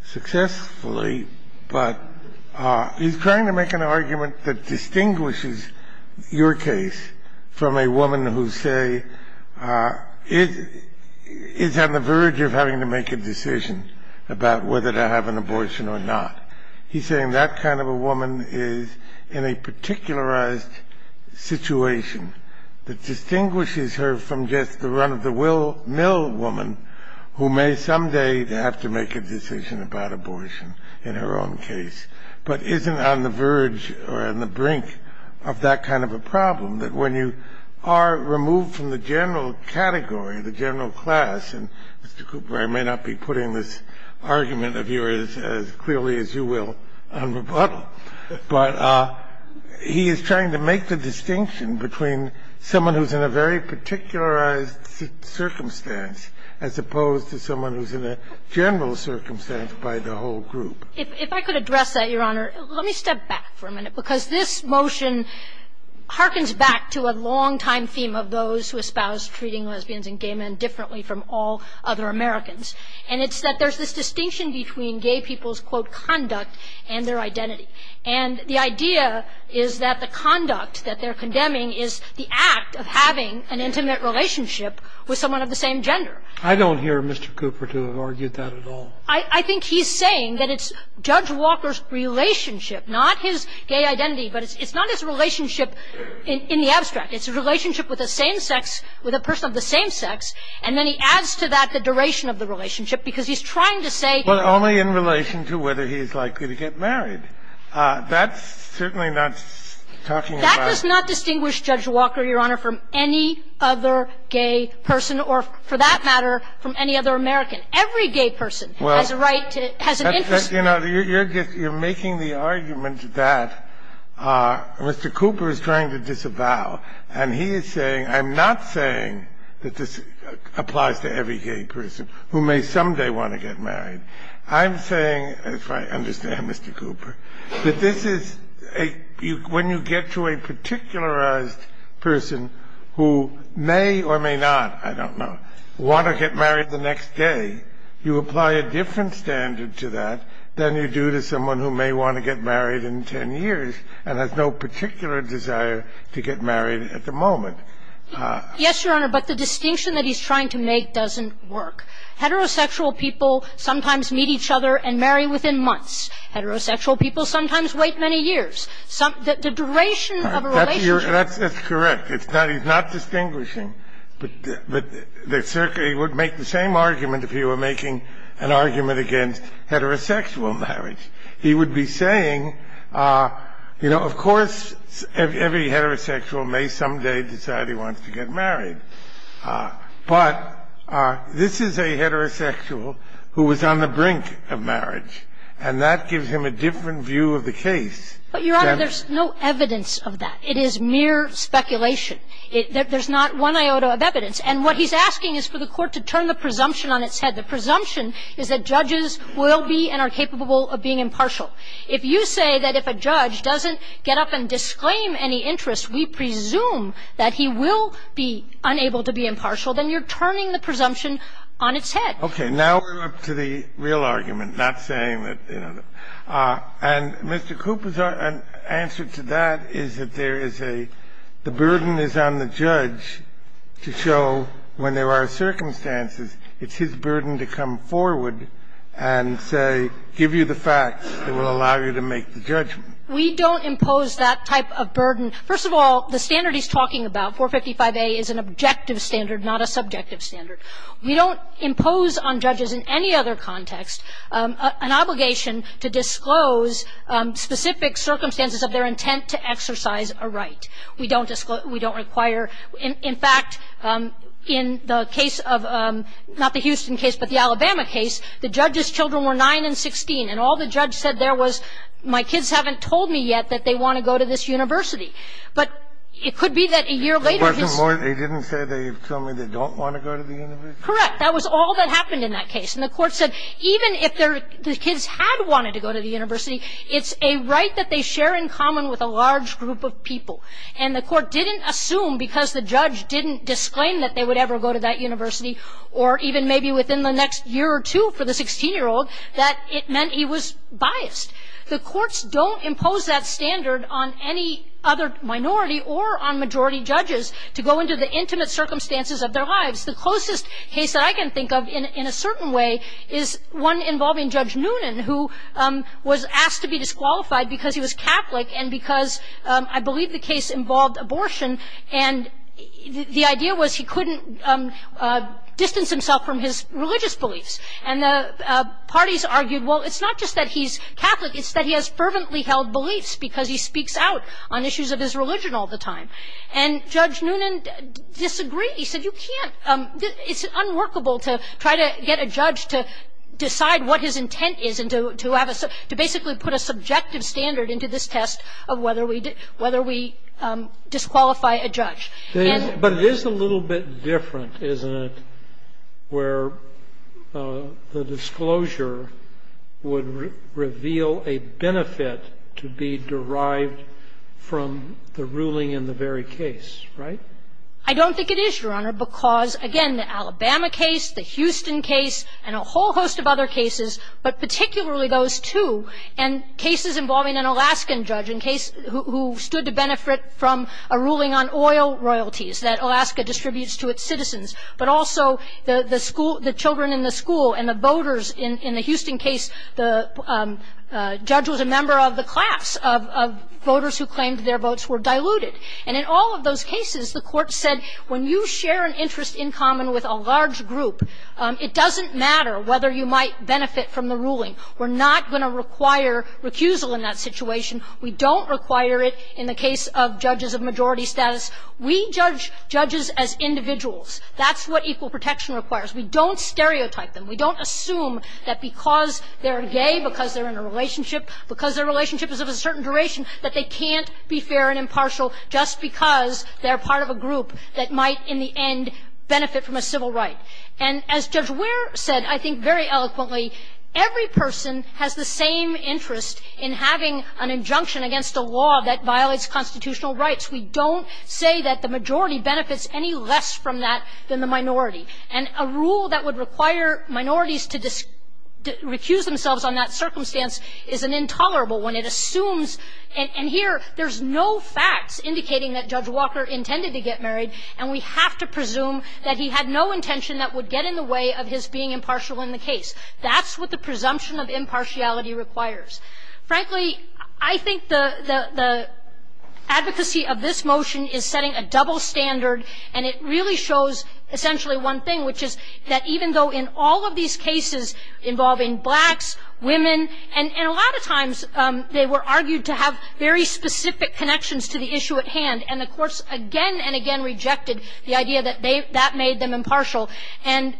successfully, but he's trying to make an argument that distinguishes your case from a woman who say is on the verge of having to make a decision about whether to have an abortion or not. He's saying that kind of a woman is in a particularized situation that distinguishes her from just the run-of-the-mill woman who may someday have to make a decision about abortion in her own case, but isn't on the verge or on the brink of that kind of a problem, that when you are removed from the general category, the general class, and, Mr. Cooper, I may not be putting this argument of yours as clearly as you will on rebuttal, but he is trying to make the distinction between someone who's in a very particularized circumstance as opposed to someone who's in a general circumstance by the whole group. If I could address that, Your Honor, let me step back for a minute, because this motion harkens back to a longtime theme of those who espouse treating lesbians and gay men differently from all other Americans, and it's that there's this distinction between gay people's, quote, conduct and their identity. And the idea is that the conduct that they're condemning is the act of having an intimate relationship with someone of the same gender. I don't hear Mr. Cooper to have argued that at all. I think he's saying that it's Judge Walker's relationship, not his gay identity, but it's not his relationship in the abstract. It's a relationship with the same sex, with a person of the same sex, and then he adds to that the duration of the relationship, because he's trying to say that he's likely to get married. That's certainly not talking about the same sex. That does not distinguish Judge Walker, Your Honor, from any other gay person, or for that matter, from any other American. Every gay person has a right to – has an interest. You know, you're making the argument that Mr. Cooper is trying to disavow, and he is saying, I'm not saying that this applies to every gay person who may someday want to get married. I'm saying, if I understand Mr. Cooper, that this is a – when you get to a particularized person who may or may not, I don't know, want to get married the next day, you apply a different standard to that than you do to someone who may want to get married in 10 years and has no particular desire to get married at the moment. Yes, Your Honor, but the distinction that he's trying to make doesn't work. Heterosexual people sometimes meet each other and marry within months. Heterosexual people sometimes wait many years. The duration of a relationship – That's correct. He's not distinguishing, but he would make the same argument if he were making an argument against heterosexual marriage. He would be saying, you know, of course, every heterosexual may someday decide he wants to get married. But this is a heterosexual who was on the brink of marriage, and that gives him a different view of the case than – But, Your Honor, there's no evidence of that. It is mere speculation. There's not one iota of evidence. And what he's asking is for the Court to turn the presumption on its head. The presumption is that judges will be and are capable of being impartial. If you say that if a judge doesn't get up and disclaim any interest, we presume that he will be unable to be impartial, then you're turning the presumption on its head. Okay. Now we're up to the real argument, not saying that, you know. And Mr. Cooper's answer to that is that there is a – the burden is on the judge to show when there are circumstances it's his burden to come forward and say, give you the facts that will allow you to make the judgment. We don't impose that type of burden. First of all, the standard he's talking about, 455A, is an objective standard, not a subjective standard. We don't impose on judges in any other context an obligation to disclose specific circumstances of their intent to exercise a right. We don't require – in fact, in the case of – not the Houston case, but the Alabama case, the judge's children were 9 and 16, and all the judge said there was, my kids haven't told me yet that they want to go to this university. But it could be that a year later his – It wasn't more – they didn't say they tell me they don't want to go to the university? Correct. That was all that happened in that case. And the Court said even if their – the kids had wanted to go to the university, it's a right that they share in common with a large group of people. And the Court didn't assume, because the judge didn't disclaim that they would ever go to that university, or even maybe within the next year or two for the 16-year-old, that it meant he was biased. The courts don't impose that standard on any other minority or on majority judges to go into the intimate circumstances of their lives. The closest case that I can think of in a certain way is one involving Judge Noonan, who was asked to be disqualified because he was Catholic and because I believe the case involved abortion. And the idea was he couldn't distance himself from his religious beliefs. And the parties argued, well, it's not just that he's Catholic, it's that he has fervently held beliefs because he speaks out on issues of his religion all the time. And Judge Noonan disagreed. He said, you can't – it's unworkable to try to get a judge to decide what his intent is and to have a – to basically put a subjective standard into this test of whether we disqualify a judge. And the – But it is a little bit different, isn't it, where the disclosure would reveal a benefit to be derived from the ruling in the very case, right? I don't think it is, Your Honor, because, again, the Alabama case, the Houston case, and a whole host of other cases, but particularly those two, and cases involving an Alaskan judge who stood to benefit from a ruling on oil royalties that Alaska distributes to its citizens, but also the school – the children in the school and the voters in the Houston case, the judge was a member of the class of voters who claimed their votes were diluted. And in all of those cases, the Court said, when you share an interest in common with a large group, it doesn't matter whether you might benefit from the ruling. We're not going to require recusal in that situation. We don't require it in the case of judges of majority status. We judge judges as individuals. That's what equal protection requires. We don't stereotype them. We don't assume that because they're gay, because they're in a relationship, because their relationship is of a certain duration, that they can't be fair and impartial just because they're part of a group that might, in the end, benefit from a civil right. And as Judge Weir said, I think, very eloquently, every person has the same interest in having an injunction against a law that violates constitutional rights. We don't say that the majority benefits any less from that than the minority. And a rule that would require minorities to recuse themselves on that circumstance is an intolerable one. It assumes – and here, there's no facts indicating that Judge Walker intended to get married, and we have to presume that he had no intention that would get in the way of his being impartial in the case. That's what the presumption of impartiality requires. Frankly, I think the advocacy of this motion is setting a double standard, and it really shows essentially one thing, which is that even though in all of these cases involving blacks, women, and a lot of times they were argued to have very specific connections to the issue at hand, and the courts again and again rejected the idea that they – that made them impartial, and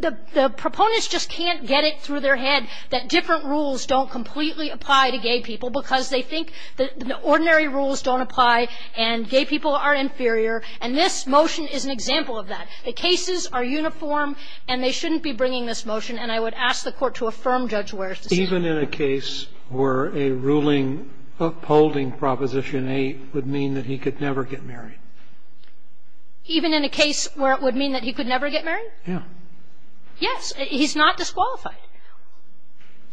the proponents just can't get it through their head that different rules don't completely apply to gay people because they think that ordinary rules don't apply and gay people are inferior, and this motion is an example of that. The cases are uniform, and they shouldn't be bringing this motion, and I would ask the Court to affirm Judge Weir's decision. Even in a case where a ruling upholding Proposition 8 would mean that he could never get married? Even in a case where it would mean that he could never get married? Yes. Yes. He's not disqualified.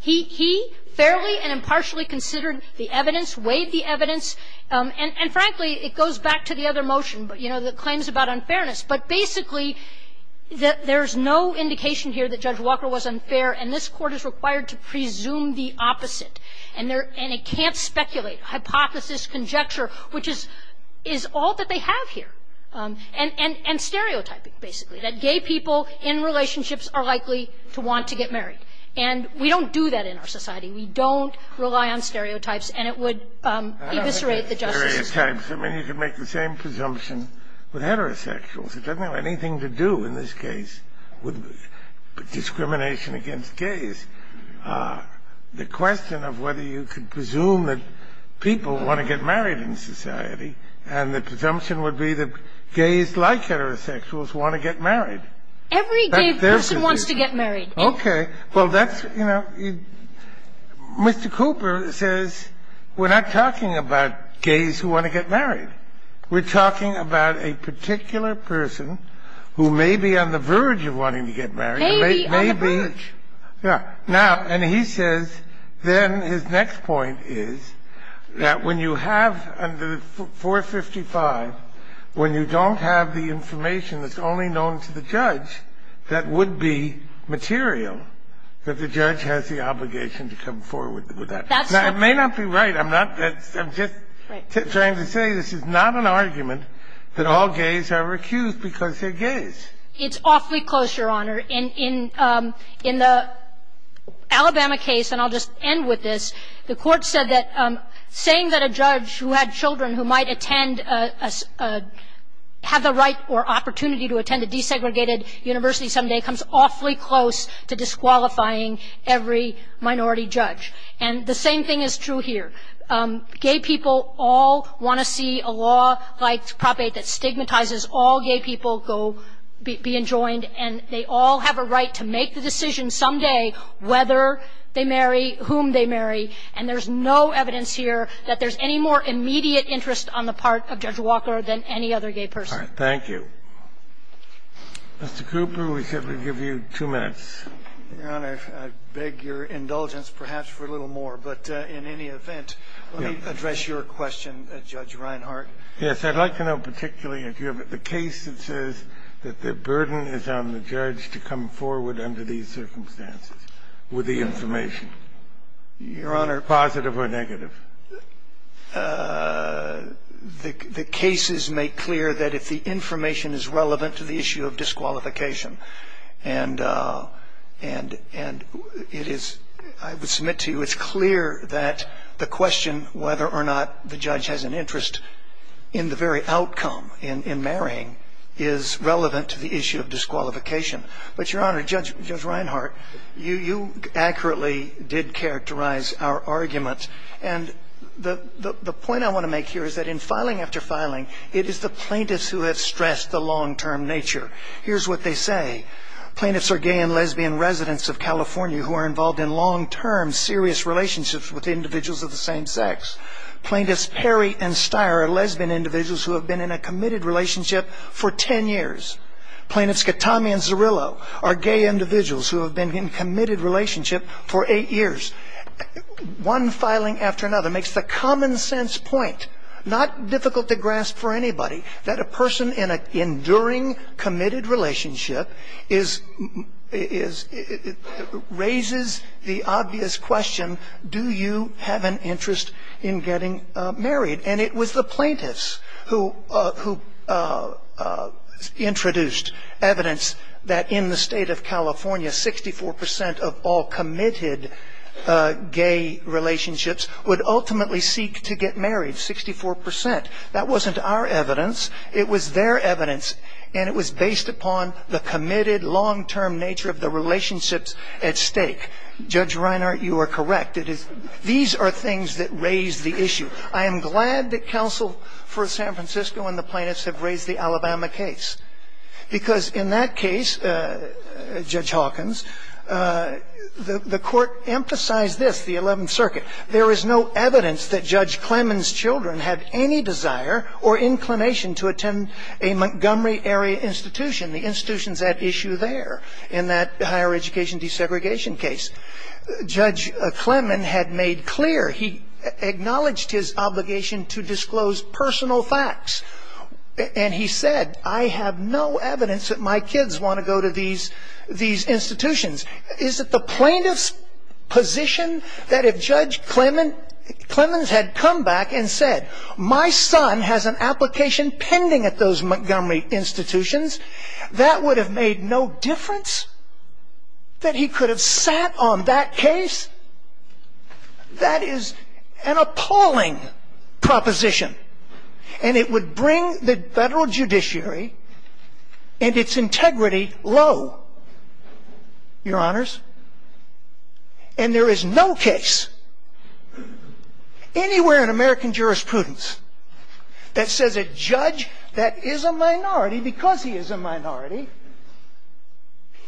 He fairly and impartially considered the evidence, weighed the evidence, and frankly, it goes back to the other motion, you know, the claims about unfairness. But basically, there's no indication here that Judge Walker was unfair, and this is a case where he's presumed the opposite, and it can't speculate, hypothesis, conjecture, which is all that they have here, and stereotyping, basically, that gay people in relationships are likely to want to get married. And we don't do that in our society. We don't rely on stereotypes, and it would eviscerate the justice system. I don't know about stereotypes. I mean, you can make the same presumption with heterosexuals. It doesn't have anything to do in this case with discrimination against gays. The question of whether you can presume that people want to get married in society, and the presumption would be that gays like heterosexuals want to get married. Every gay person wants to get married. Okay. Well, that's, you know, Mr. Cooper says we're not talking about gays who want to get married. We're talking about a particular person who may be on the verge of wanting to get married. Maybe on the verge. Yeah. Now, and he says, then his next point is that when you have under 455, when you don't have the information that's only known to the judge, that would be material, that the judge has the obligation to come forward with that. Now, it may not be right. I'm not, I'm just trying to say this is not an argument that all gays are accused because they're gays. It's awfully close, Your Honor. In the Alabama case, and I'll just end with this, the court said that saying that a judge who had children who might attend, have the right or opportunity to attend a desegregated university someday comes awfully close to disqualifying every minority judge. And the same thing is true here. Gay people all want to see a law like Prop 8 that stigmatizes all gay people go be enjoined, and they all have a right to make the decision someday whether they marry, whom they marry. And there's no evidence here that there's any more immediate interest on the part of Judge Walker than any other gay person. Thank you. Mr. Cooper, we said we'd give you two minutes. Your Honor, I beg your indulgence, perhaps for a little more. But in any event, let me address your question, Judge Reinhart. Yes. I'd like to know particularly if you have a case that says that the burden is on the judge to come forward under these circumstances with the information. Your Honor. Positive or negative? The cases make clear that if the information is relevant to the issue of disqualification. And it is – I would submit to you it's clear that the question whether or not the very outcome in marrying is relevant to the issue of disqualification. But your Honor, Judge Reinhart, you accurately did characterize our argument. And the point I want to make here is that in filing after filing, it is the plaintiffs who have stressed the long-term nature. Here's what they say. Plaintiffs are gay and lesbian residents of California who are involved in long-term serious relationships with individuals of the same sex. Plaintiffs Perry and Steyer are lesbian individuals who have been in a committed relationship for ten years. Plaintiffs Gattame and Zerillo are gay individuals who have been in committed relationship for eight years. One filing after another makes the common sense point, not difficult to grasp for anybody, that a person in an enduring committed relationship is – raises the obvious question, do you have an interest in getting married? And it was the plaintiffs who introduced evidence that in the state of California, 64 percent of all committed gay relationships would ultimately seek to get married, 64 percent. That wasn't our evidence. It was their evidence. And it was based upon the committed, long-term nature of the relationships at stake. Judge Reinhart, you are correct. These are things that raise the issue. I am glad that counsel for San Francisco and the plaintiffs have raised the Alabama case. Because in that case, Judge Hawkins, the court emphasized this, the Eleventh Circuit. There is no evidence that Judge Clemon's children have any desire or inclination to attend a Montgomery area institution. The institution's at issue there in that higher education desegregation case. Judge Clemon had made clear, he acknowledged his obligation to disclose personal facts. And he said, I have no evidence that my kids want to go to these institutions. Is it the plaintiff's position that if Judge Clemon's had come back and said, my son has an application pending at those Montgomery institutions, that would have made no difference? That he could have sat on that case? That is an appalling proposition. And it would bring the federal judiciary and its integrity low, your honors. And there is no case anywhere in American jurisprudence that says a judge that is a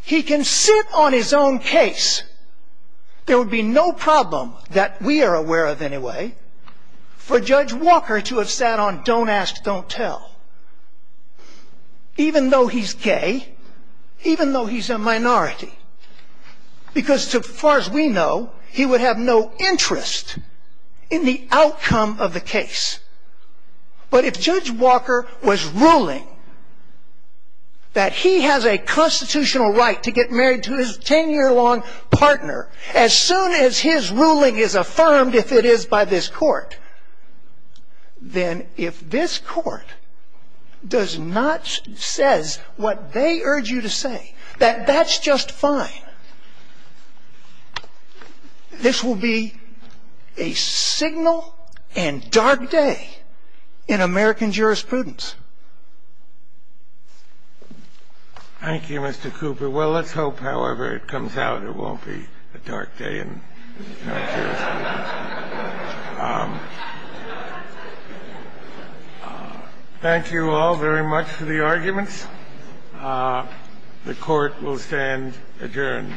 He can sit on his own case. There would be no problem, that we are aware of anyway, for Judge Walker to have sat on don't ask, don't tell. Even though he's gay, even though he's a minority. Because as far as we know, he would have no interest in the outcome of the case. But if Judge Walker was ruling that he has a constitutional right to get married to his 10-year-long partner, as soon as his ruling is affirmed, if it is by this court, then if this court does not say what they urge you to say, that that's just fine, this will be a signal and dark day in American jurisprudence. Thank you, Mr. Cooper. Well, let's hope, however, it comes out, it won't be a dark day in American jurisprudence. Thank you all very much for the arguments. The court will stand adjourned.